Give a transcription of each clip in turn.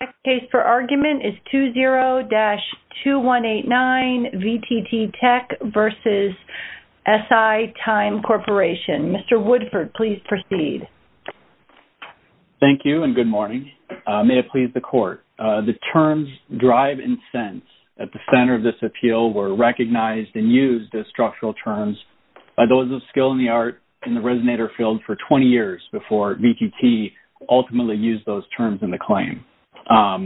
The case for argument is 20-2189 VTT Tech v. SiTime Corporation. Mr. Woodford, please proceed. Thank you and good morning. May it please the court. The terms drive and sense at the center of this appeal were recognized and used as structural terms by those of skill in the art in the resonator field for 20 years before VTT ultimately used those terms in the claim.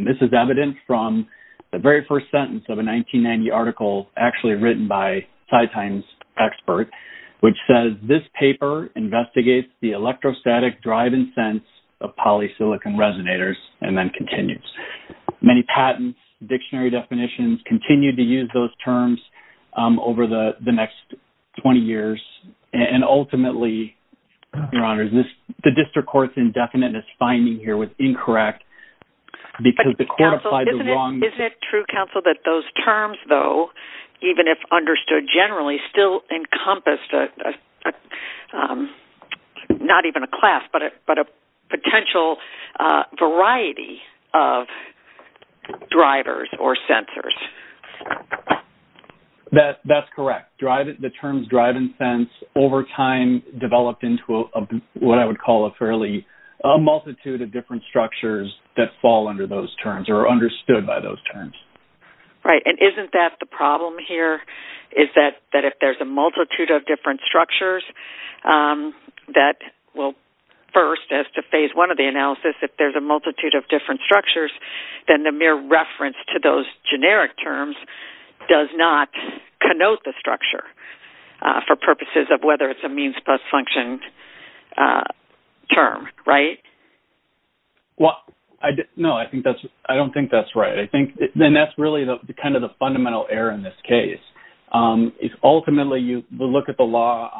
This is evident from the very first sentence of a 1990 article actually written by SiTime's expert, which says, this paper investigates the electrostatic drive and sense of polysilicon resonators and then continues. Many patents, dictionary definitions, continue to use those terms over the next 20 years. And ultimately, Your Honor, the district court's indefinite finding here was incorrect because the court applied the wrong... Isn't it true, counsel, that those terms, though, even if understood generally, still encompassed not even a class, but a potential variety of drivers or sensors? That's correct. The terms drive and sense over time developed into what I would call a fairly multitude of different structures that fall under those terms or are understood by those terms. Right. And isn't that the problem here is that if there's a multitude of different structures, that will... First, as to phase one of the analysis, if there's a multitude of different structures, then the mere reference to those generic terms does not connote the structure for purposes of whether it's a means-plus function term, right? Well, no, I don't think that's right. And that's really kind of the fundamental error in this case. Ultimately, you look at the law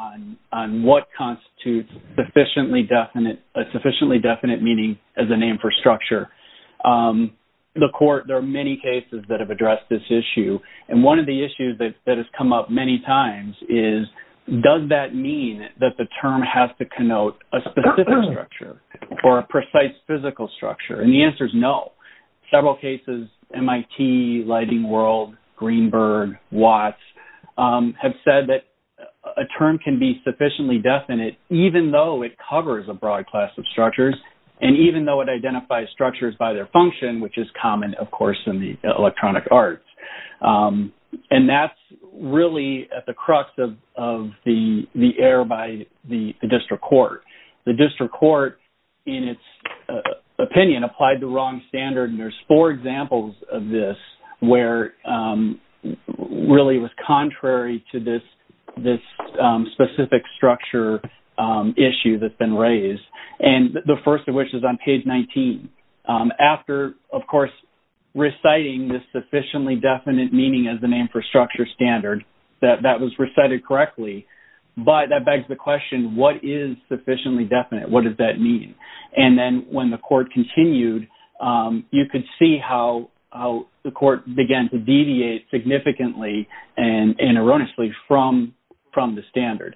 on what constitutes a sufficiently definite meaning as a name for structure. The court, there are many cases that have addressed this issue. And one of the issues that has come up many times is, does that mean that the term has to connote a specific structure or a precise physical structure? And the answer is no. Several cases, MIT, Lighting World, Greenberg, Watts, have said that a term can be sufficiently definite even though it covers a broad class of structures and even though it identifies structures by their function, which is common, of course, in the electronic arts. And that's really at the crux of the error by the district court. The district court, in its opinion, applied the wrong standard. And there's four examples of this where really it was contrary to this specific structure issue that's been raised. And the first of which is on page 19. After, of course, reciting this sufficiently definite meaning as the name for structure standard, that that was recited correctly. But that begs the question, what is sufficiently definite? What does that mean? And then when the court continued, you could see how the court began to deviate significantly and erroneously from the standard.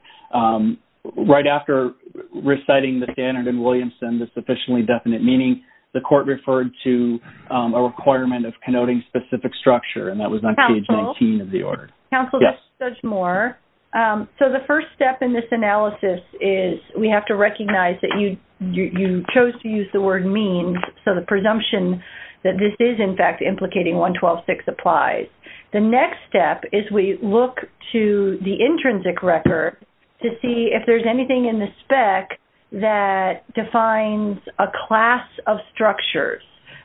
Right after reciting the standard in Williamson, the sufficiently definite meaning, the court referred to a requirement of connoting specific structure. And that was on page 19 of the order. Counsel, let's judge more. So the first step in this analysis is we have to recognize that you chose to use the word means. So the presumption that this is, in fact, implicating 112.6 applies. The next step is we look to the intrinsic record to see if there's anything in the spec that defines a class of structures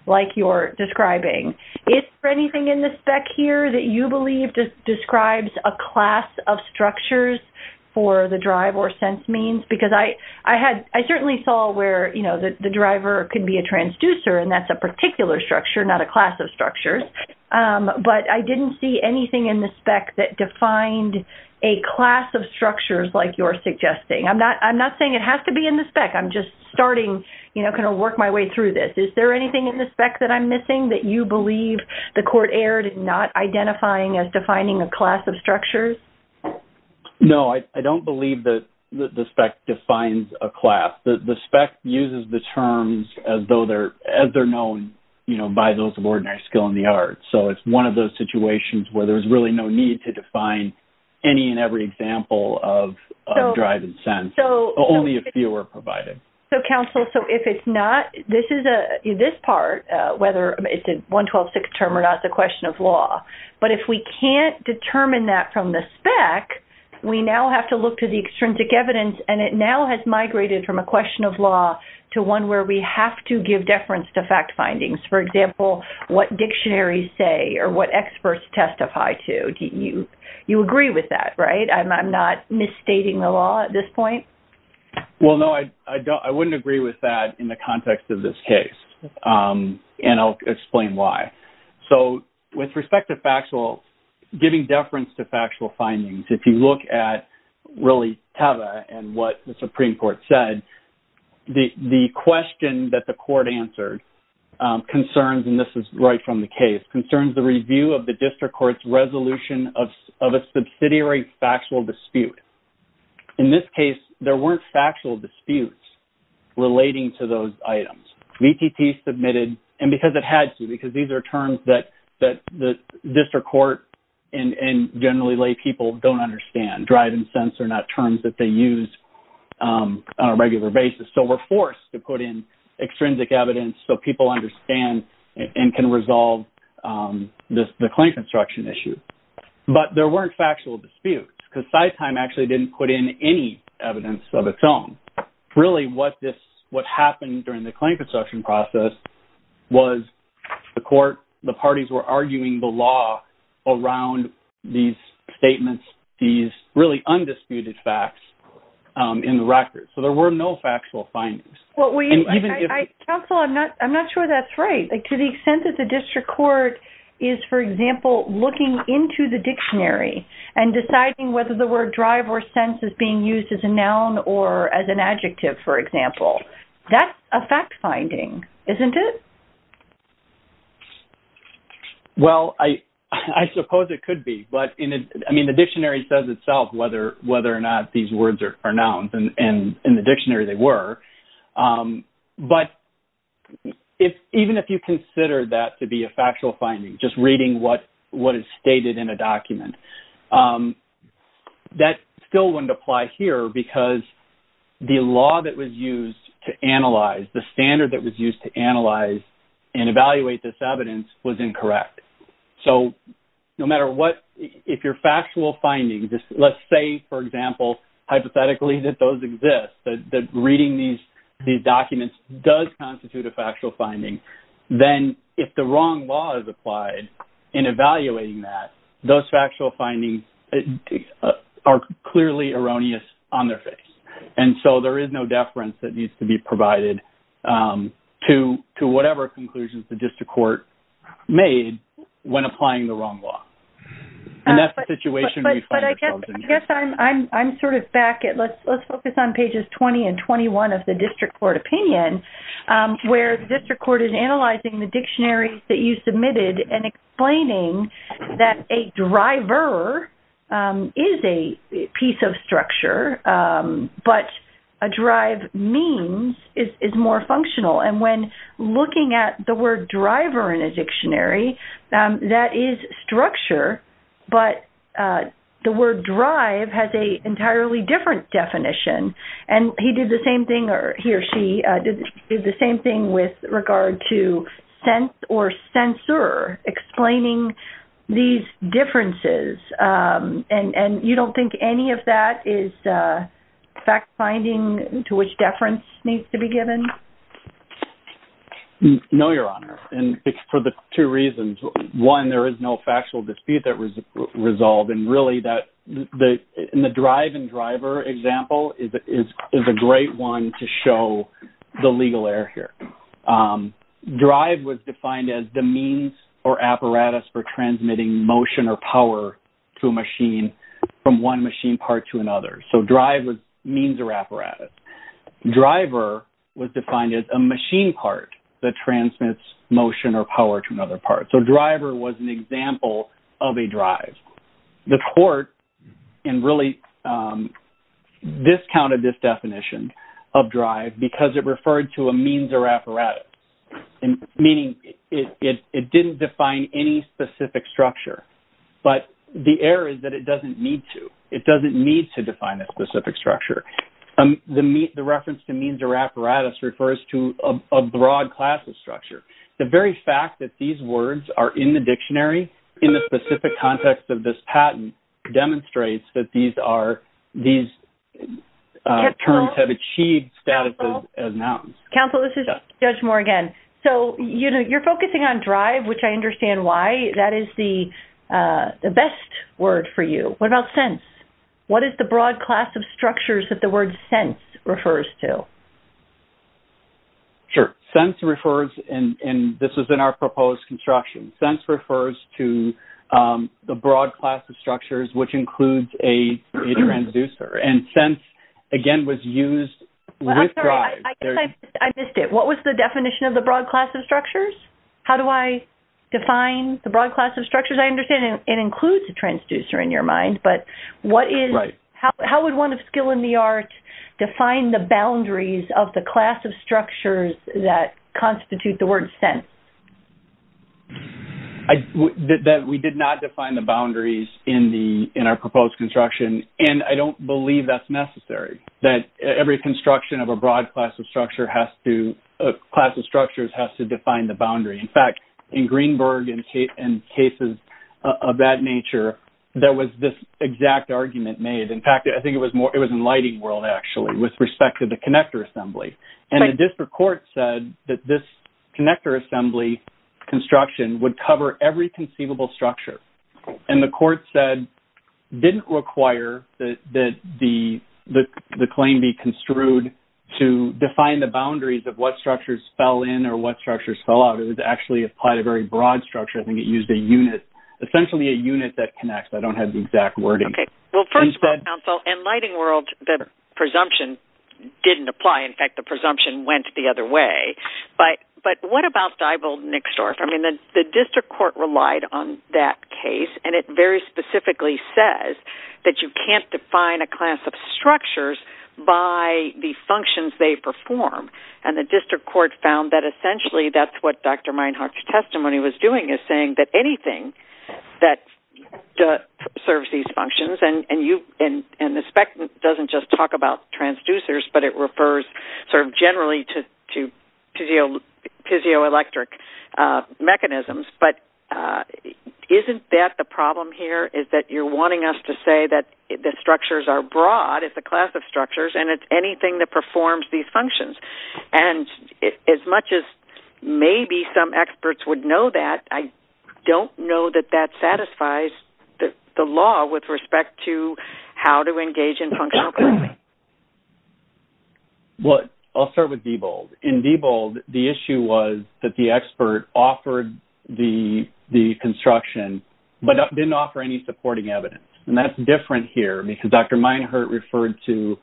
like you're describing. Is there anything in the spec here that you believe describes a class of structures for the drive or sense means? Because I certainly saw where the driver could be a transducer and that's a particular structure, not a class of structures. But I didn't see anything in the spec that defined a class of structures like you're suggesting. I'm not saying it has to be in the spec. I'm just starting, you know, kind of work my way through this. Is there anything in the spec that I'm missing that you believe the court erred in not identifying as defining a class of structures? No, I don't believe that the spec defines a class. The spec uses the terms as though they're known, you know, by those of ordinary skill in the arts. So it's one of those situations where there's really no need to define any and every example of drive and sense. Only a few are provided. So counsel, so if it's not, this part, whether it's a 112.6 term or not, it's a question of law. But if we can't determine that from the spec, we now have to look to the extrinsic evidence and it now has migrated from a question of law to one where we have to give deference to fact findings. For example, what dictionaries say or what experts testify to? Do you agree with that, right? I'm not misstating the law at this point. Well, no, I wouldn't agree with that in the factual, giving deference to factual findings. If you look at really TABA and what the Supreme Court said, the question that the court answered concerns, and this is right from the case, concerns the review of the district court's resolution of a subsidiary factual dispute. In this case, there weren't factual disputes relating to those items. VTT submitted, and because it had to, because these are terms that the district court and generally lay people don't understand. Drive and sense are not terms that they use on a regular basis. So we're forced to put in extrinsic evidence so people understand and can resolve the claim construction issue. But there weren't factual disputes because CyTime actually didn't put in any evidence of its own. Really, what happened during the claim construction process was the court, the parties were arguing the law around these statements, these really undisputed facts in the record. So there were no factual findings. Well, counsel, I'm not sure that's right. To the extent that the district court is, for example, looking into the dictionary and deciding whether the word drive or sense is being used as a noun or as an adjective, for example, that's a fact finding, isn't it? Well, I suppose it could be, but I mean, the dictionary says itself whether or not these words are nouns, and in the dictionary they were. But even if you consider that to be a factual finding, just reading what is stated in a dictionary, that still wouldn't apply here because the law that was used to analyze, the standard that was used to analyze and evaluate this evidence was incorrect. So no matter what, if your factual findings, let's say, for example, hypothetically that those exist, that reading these documents does constitute a factual finding, then if the wrong law is applied in evaluating that, those factual findings are clearly erroneous on their face. And so there is no deference that needs to be provided to whatever conclusions the district court made when applying the wrong law. And that's the situation we find ourselves in. But I guess I'm sort of back at, let's focus on pages 20 and 21 of the district court opinion, where the district court is analyzing the dictionary that you submitted and explaining that a driver is a piece of structure, but a drive means is more functional. And when looking at the word driver in a dictionary, that is structure, but the word drive has an same thing with regard to sense or censor explaining these differences. And you don't think any of that is fact finding to which deference needs to be given? No, Your Honor. And it's for the two reasons. One, there is no factual dispute that was here. Drive was defined as the means or apparatus for transmitting motion or power to a machine from one machine part to another. So drive was means or apparatus. Driver was defined as a machine part that transmits motion or power to another part. So driver was an example of a court and really discounted this definition of drive because it referred to a means or apparatus, meaning it didn't define any specific structure. But the error is that it doesn't need to. It doesn't need to define a specific structure. The reference to means or apparatus refers to a broad class of structure. The very fact that these words are in the dictionary in the specific context of this patent demonstrates that these terms have achieved status as nouns. Counsel, this is Judge Moore again. So you're focusing on drive, which I understand why. That is the best word for you. What about sense? What is the broad class of structures that the word sense refers to? Sure. Sense refers, and this was in our proposed construction, sense refers to the broad class of structures, which includes a transducer. And sense, again, was used with drive. I'm sorry. I missed it. What was the definition of the broad class of structures? How do I define the broad class of structures? I understand it includes a transducer in your mind, but how would one of skill in the art define the boundaries of the class of structures that constitute the word sense? We did not define the boundaries in our proposed construction, and I don't believe that's necessary, that every construction of a broad class of structures has to define the boundary. In fact, in Greenberg and cases of that nature, there was this exact argument made. In fact, I think it was more, it was in lighting world, actually, with respect to the connector assembly. And the district court said that this connector assembly construction would cover every conceivable structure. And the court said, didn't require that the claim be construed to define the boundaries of what structures fell in or what structures fell out. It was actually applied a very broad structure. I think it used essentially a unit that connects. I don't have the exact wording. Okay. Well, first of all, counsel, in lighting world, the presumption didn't apply. In fact, the presumption went the other way. But what about Stuyveld and Nixdorf? I mean, the district court relied on that case, and it very specifically says that you can't define a class of structures by the functions they perform. And the district court found that that anything that serves these functions, and the spec doesn't just talk about transducers, but it refers sort of generally to physioelectric mechanisms. But isn't that the problem here, is that you're wanting us to say that the structures are broad, it's a class of structures, and it's anything that performs these functions. And as much as maybe some experts would know that, I don't know that that satisfies the law with respect to how to engage in functional... Well, I'll start with Diebold. In Diebold, the issue was that the expert offered the construction, but didn't offer any supporting evidence. And that's different here, because Dr. Meinhardt referred to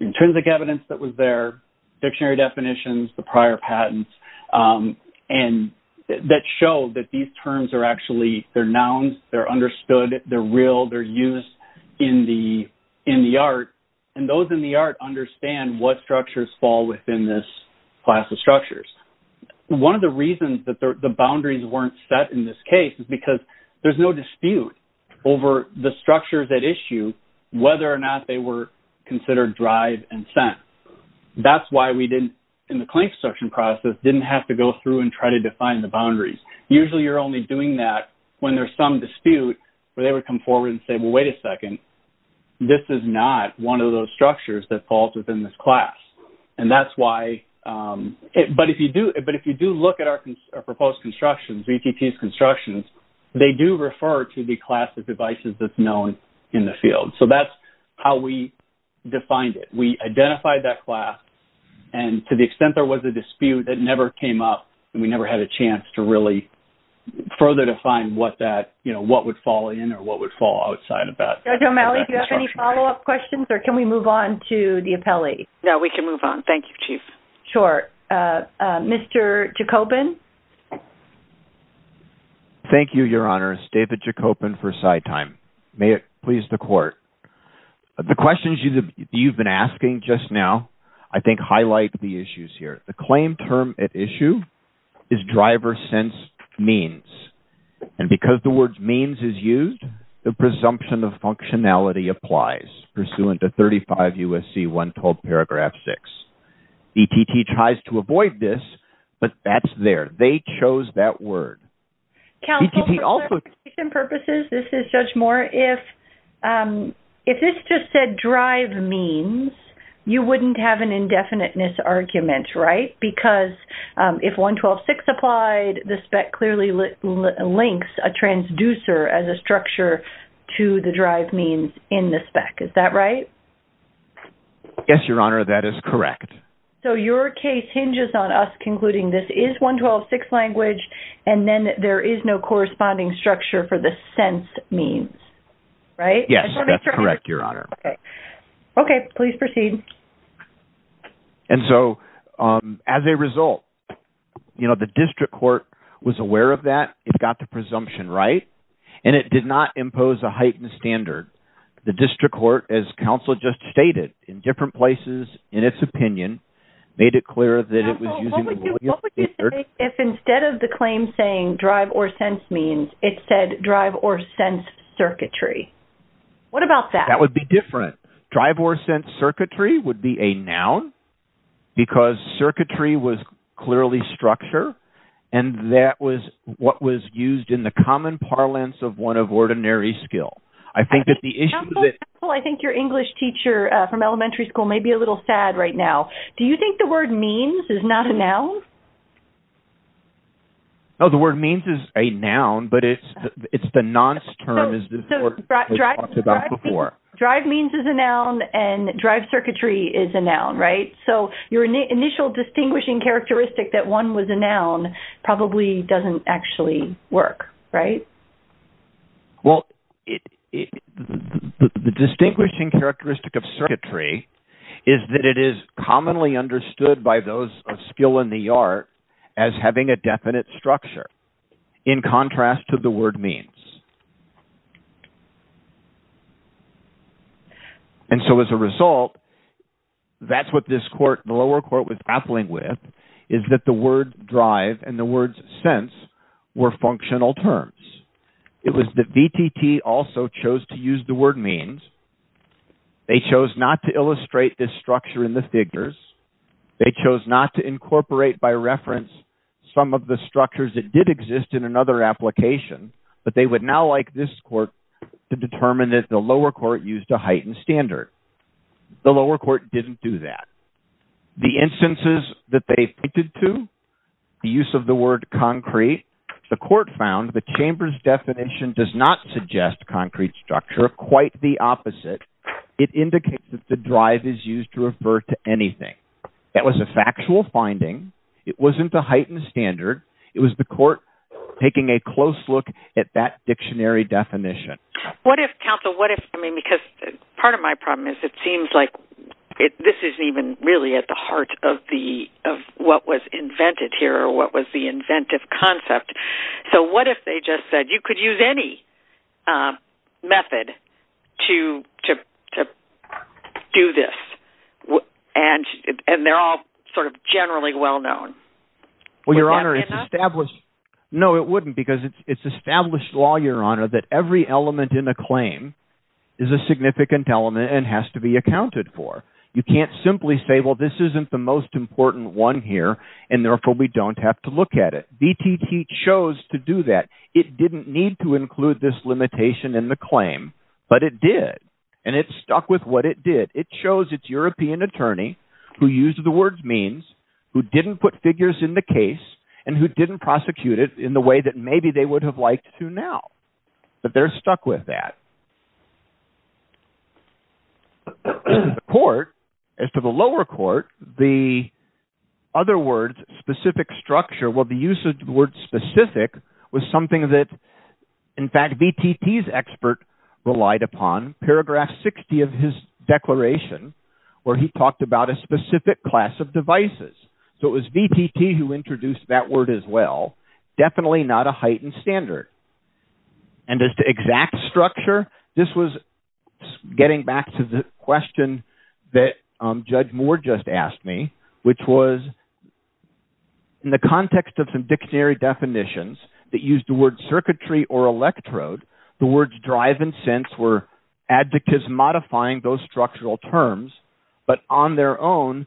intrinsic evidence that was there, dictionary definitions, the prior patents, and that show that these terms are actually, they're nouns, they're understood, they're real, they're used in the art. And those in the art understand what structures fall within this class of structures. One of the reasons that the boundaries weren't set in this case is because there's no dispute over the structures at issue, whether or not they were considered drive and That's why we didn't, in the claim construction process, didn't have to go through and try to define the boundaries. Usually, you're only doing that when there's some dispute, where they would come forward and say, well, wait a second, this is not one of those structures that falls within this class. And that's why... But if you do look at our proposed constructions, VTT's constructions, they do refer to the class of devices that's known in the field. So that's how we defined it. We identified that class. And to the extent there was a dispute that never came up, we never had a chance to really further define what that, you know, what would fall in or what would fall outside of that. Judge O'Malley, do you have any follow-up questions or can we move on to the appellee? No, we can move on. Thank you, Chief. Sure. Mr. Jacobin. Thank you, Your Honor. It's David Jacobin for CyTime. May it please the court. The questions you've been asking just now, I think highlight the issues here. The claim term at issue is driver sensed means. And because the word means is used, the presumption of functionality applies pursuant to 35 U.S.C. 112 paragraph 6. VTT tries to avoid this, but that's there. They chose that means. You wouldn't have an indefiniteness argument, right? Because if 112.6 applied, the spec clearly links a transducer as a structure to the drive means in the spec. Is that right? Yes, Your Honor. That is correct. So your case hinges on us concluding this is 112.6 language, and then there is no corresponding structure for the sense means, right? Yes, that's correct, Your Honor. Okay. Please proceed. And so as a result, you know, the district court was aware of that. It got the presumption right, and it did not impose a heightened standard. The district court, as counsel just stated in different places in its opinion, made it clear that it was using. If instead of the claim saying drive or sense means, it said drive or sense circuitry. What about that? That would be different. Drive or sense circuitry would be a noun because circuitry was clearly structure, and that was what was used in the common parlance of one of ordinary skill. Counsel, I think your English teacher from elementary school may be a little sad right now. Do you think the word means is not a noun? No, the word means is a noun, but it's the nonce term as we talked about before. So drive means is a noun, and drive circuitry is a noun, right? So your initial distinguishing characteristic that one was a noun probably doesn't actually work, right? Well, the distinguishing characteristic of circuitry is that it is commonly understood by those of skill in the art as having a definite structure in contrast to the word means. And so as a result, that's what this court, the lower court, was grappling with is that the word drive and the words sense were functional terms. It was the VTT also chose to use the word means. They chose not to illustrate this structure in the figures. They chose not to incorporate by reference some of the structures that did exist in another application, but they would now like this court to determine that the lower court used a heightened standard. The lower court didn't do that. The instances that they pointed to, the use of the word concrete, the court found the chamber's definition does not suggest concrete structure, quite the opposite. It indicates that the drive is used to refer to anything. That was a factual finding. It wasn't a heightened standard. It was the court taking a close look at that dictionary definition. What if, counsel, what if, I mean, because part of my problem is it seems like this isn't even really at the heart of what was invented here or what was the inventive concept. So what if they just said you could use any method to do this, and they're all sort of generally well-known? Well, Your Honor, it's established. No, it wouldn't because it's established law, Your Honor, that every element in a claim is a significant element and has to be accounted for. You can't simply say, well, this isn't the most important one here, and therefore, we don't have to look at it. VTT chose to do that. It didn't need to include this limitation in the claim, but it did, and it stuck with what it did. It chose its European attorney who used the word means, who didn't put figures in the case, and who didn't prosecute it in the way that maybe they would have liked to now, but they're stuck with that. As to the court, as to the lower court, the other words, specific structure, well, the usage of the word specific was something that, in fact, VTT's expert relied upon. Paragraph 60 of his declaration where he talked about a specific class of devices. So it was VTT who introduced that word as well. Definitely not a heightened standard. And as to exact structure, this was getting back to the question that Judge Moore just asked me, which was, in the context of some dictionary definitions that used the word circuitry or electrode, the words drive and sense were advocates modifying those structural terms, but on their own,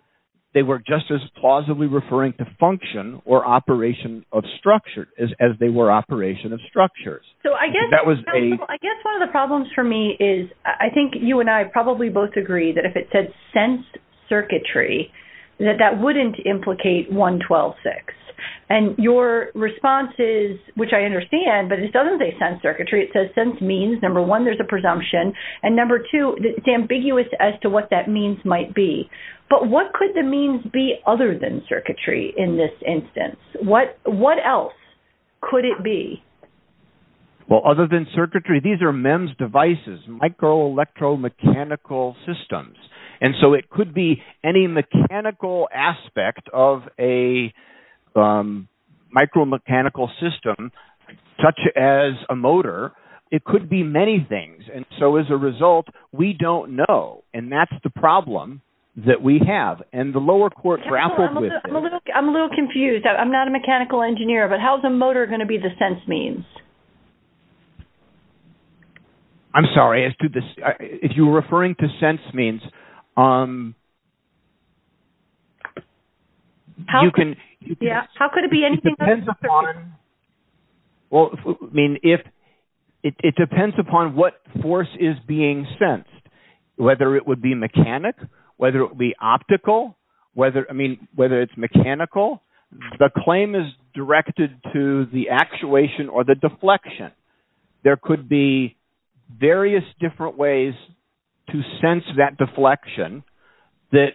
they were just as plausibly referring to function or operation of structure as they were operation of structures. I guess one of the problems for me is, I think you and I probably both agree that if it said sense circuitry, that that wouldn't implicate 112.6. And your response is, which I understand, but it doesn't say sense circuitry. It says sense means, number one, there's a presumption, and number two, it's ambiguous as to what that means might be. But what could the means be other than circuitry in this instance? What else could it be? Well, other than circuitry, these are MEMS devices, microelectromechanical systems. And so it could be any mechanical aspect of a micromechanical system, such as a motor. It could be many things. And so as a result, we don't know. And that's the problem that we have. And the lower court grappled with it. I'm a little confused. I'm not a mechanical engineer, but how's a motor going to be the sense means? I'm sorry. If you were referring to sense means... Yeah. How could it be anything other than circuitry? Well, I mean, it depends upon what force is being sensed, whether it would be mechanic, whether it would be optical, I mean, whether it's mechanical. The claim is directed to the actuation or the deflection. There could be various different ways to sense that deflection that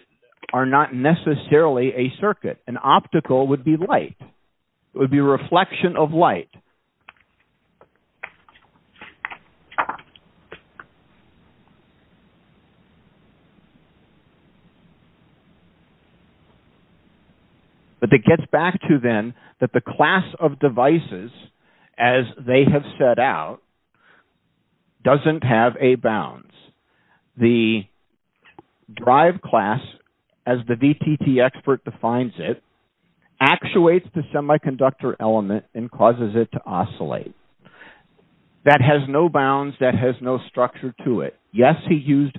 are not necessarily a circuit. An optical would be light. It would be a reflection of light. But that gets back to then that the class of devices as they have set out doesn't have a bounds. The drive class, as the DTT expert defines it, actuates the semiconductor element and causes it to oscillate. That has no bounds. That has no structure to it. Yes, he used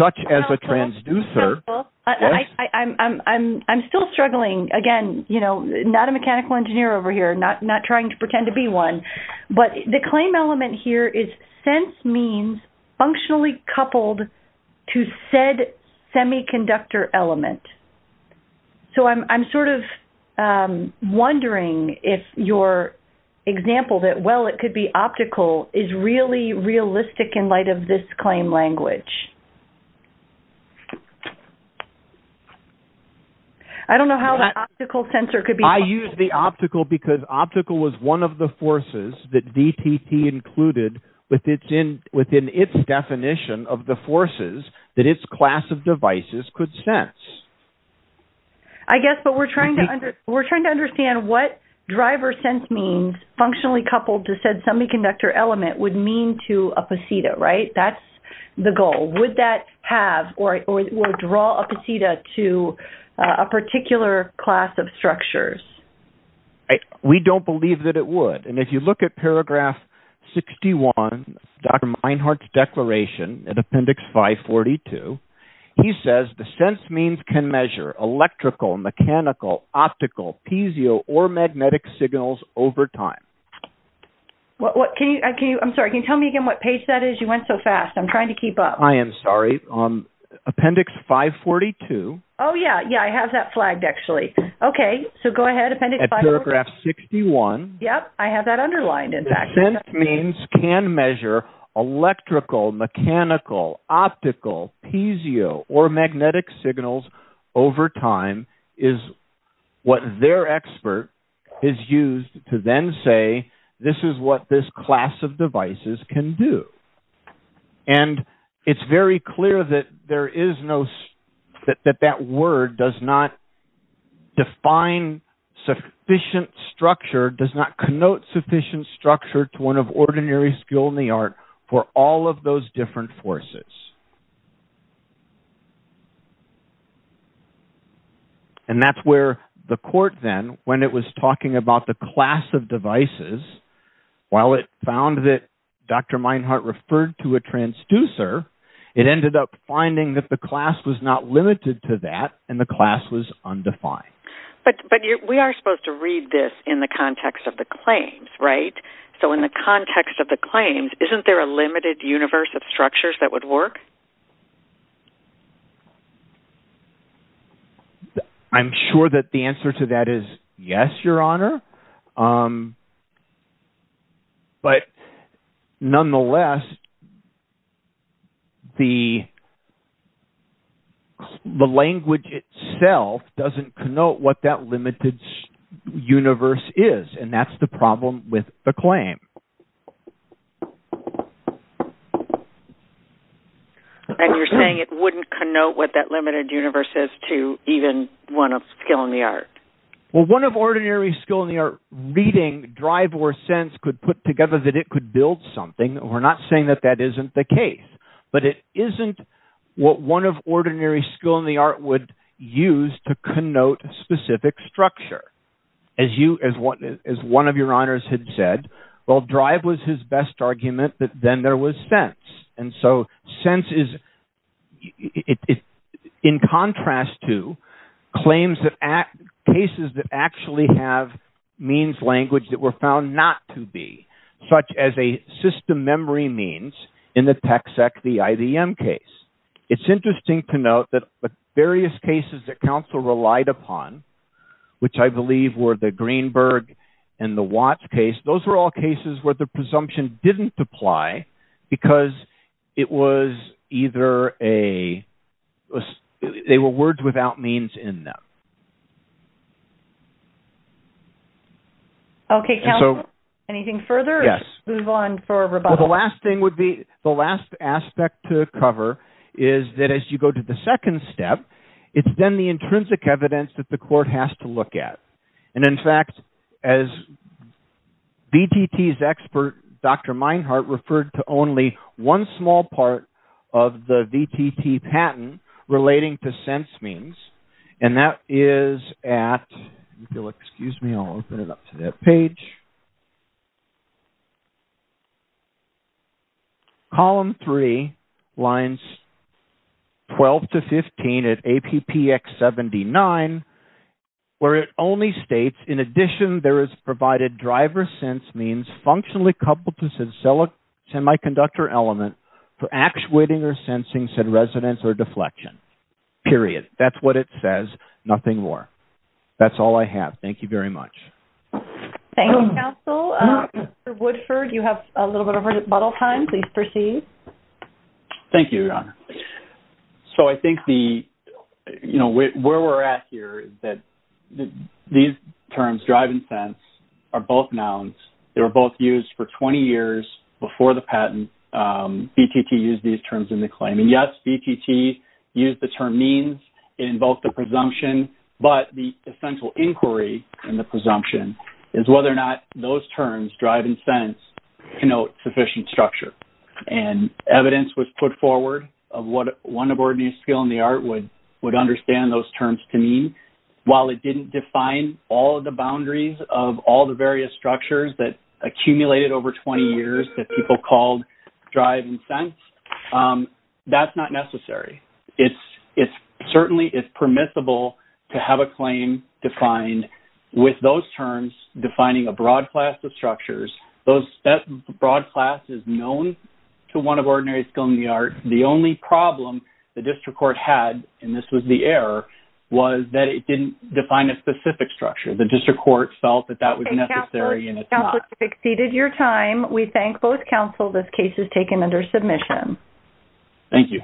such as a transducer. I'm still struggling. Again, not a mechanical engineer over here, not trying to pretend to be one. But the claim element here is sense means functionally coupled to said semiconductor element. So I'm sort of wondering if your example that, well, it could be optical, is really realistic in light of this claim language. I don't know how the optical sensor could be... I use the optical because optical was one of the forces that DTT included within its definition of the forces that its class of devices could sense. I guess, but we're trying to understand what driver sense means functionally coupled to said semiconductor element would mean to a posita, right? That's the goal. Would that have or draw a posita to a particular class of structures? I, we don't believe that it would. And if you look at paragraph 61, Dr. Meinhardt's declaration in appendix 542, he says the sense means can measure electrical, mechanical, optical, piezo, or magnetic signals over time. What, what can you, can you, I'm sorry, can you tell me again what page that is? You went so fast. I'm trying to keep up. I am sorry. Appendix 542. Oh yeah. Yeah. I have that flagged actually. Okay. So go ahead. Appendix 542. At paragraph 61. Yep. I have that underlined in fact. Sense means can measure electrical, mechanical, optical, piezo, or magnetic signals over time is what their expert is used to then say, this is what this class of devices can do. And it's very clear that there define sufficient structure does not connote sufficient structure to one of ordinary skill in the art for all of those different forces. And that's where the court then, when it was talking about the class of devices, while it found that Dr. Meinhardt referred to a transducer, it ended up finding that the class was not limited to that and the class was undefined. But we are supposed to read this in the context of the claims, right? So in the context of the claims, isn't there a limited universe of structures that would work? I'm sure that the answer to that is yes, your honor. But nonetheless, the language itself doesn't connote what that limited universe is. And that's the problem with the claim. And you're saying it wouldn't connote what that limited universe is to even one of skill in the art? Well, one of ordinary skill in the art reading drive or sense could put together that it could build something. We're not saying that that isn't the case, but it isn't what one of ordinary skill in the art would use to connote specific structure. As one of your honors had said, well, drive was his best argument, but then there was sense. And so sense is in contrast to claims that act cases that actually have means language that were found not to be such as a system memory means in the tech sec, the IDM case. It's interesting to note that various cases that counsel relied upon, which I believe were the Greenberg and the watch case, those were all cases where the presumption didn't apply because it was either a, it was, they were words without means in them. Okay. Anything further move on for the last thing would be the last aspect to cover is that as you go to the second step, it's then the intrinsic evidence that the court has to look at. And in relating to sense means, and that is at, if you'll excuse me, I'll open it up to that page. Column three lines 12 to 15 at APPX 79, where it only states in addition, there is provided driver sense means functionally coupled to semi-conductor element for actuating or sensing said residents or deflection period. That's what it says. Nothing more. That's all I have. Thank you very much. Thank you counsel. Mr. Woodford, you have a little bit of a bottle time. Please proceed. Thank you, your honor. So I think the, you know, where we're at here is that these terms driving sense are both nouns. They were both used for 20 years before the patent. BTT used these terms in the claim. And yes, BTT used the term means in both the presumption, but the essential inquiry in the presumption is whether or not those terms drive and sense can note sufficient structure. And evidence was put forward of what one of our new skill in the art would understand those terms to mean. While it didn't define all of the boundaries of all various structures that accumulated over 20 years that people called drive and sense, that's not necessary. It's certainly, it's permissible to have a claim defined with those terms, defining a broad class of structures. That broad class is known to one of ordinary skill in the art. The only problem the district court had, and this was the error, was that it didn't define a specific structure. The district court felt that that conflict exceeded your time. We thank both counsel. This case is taken under submission. Thank you.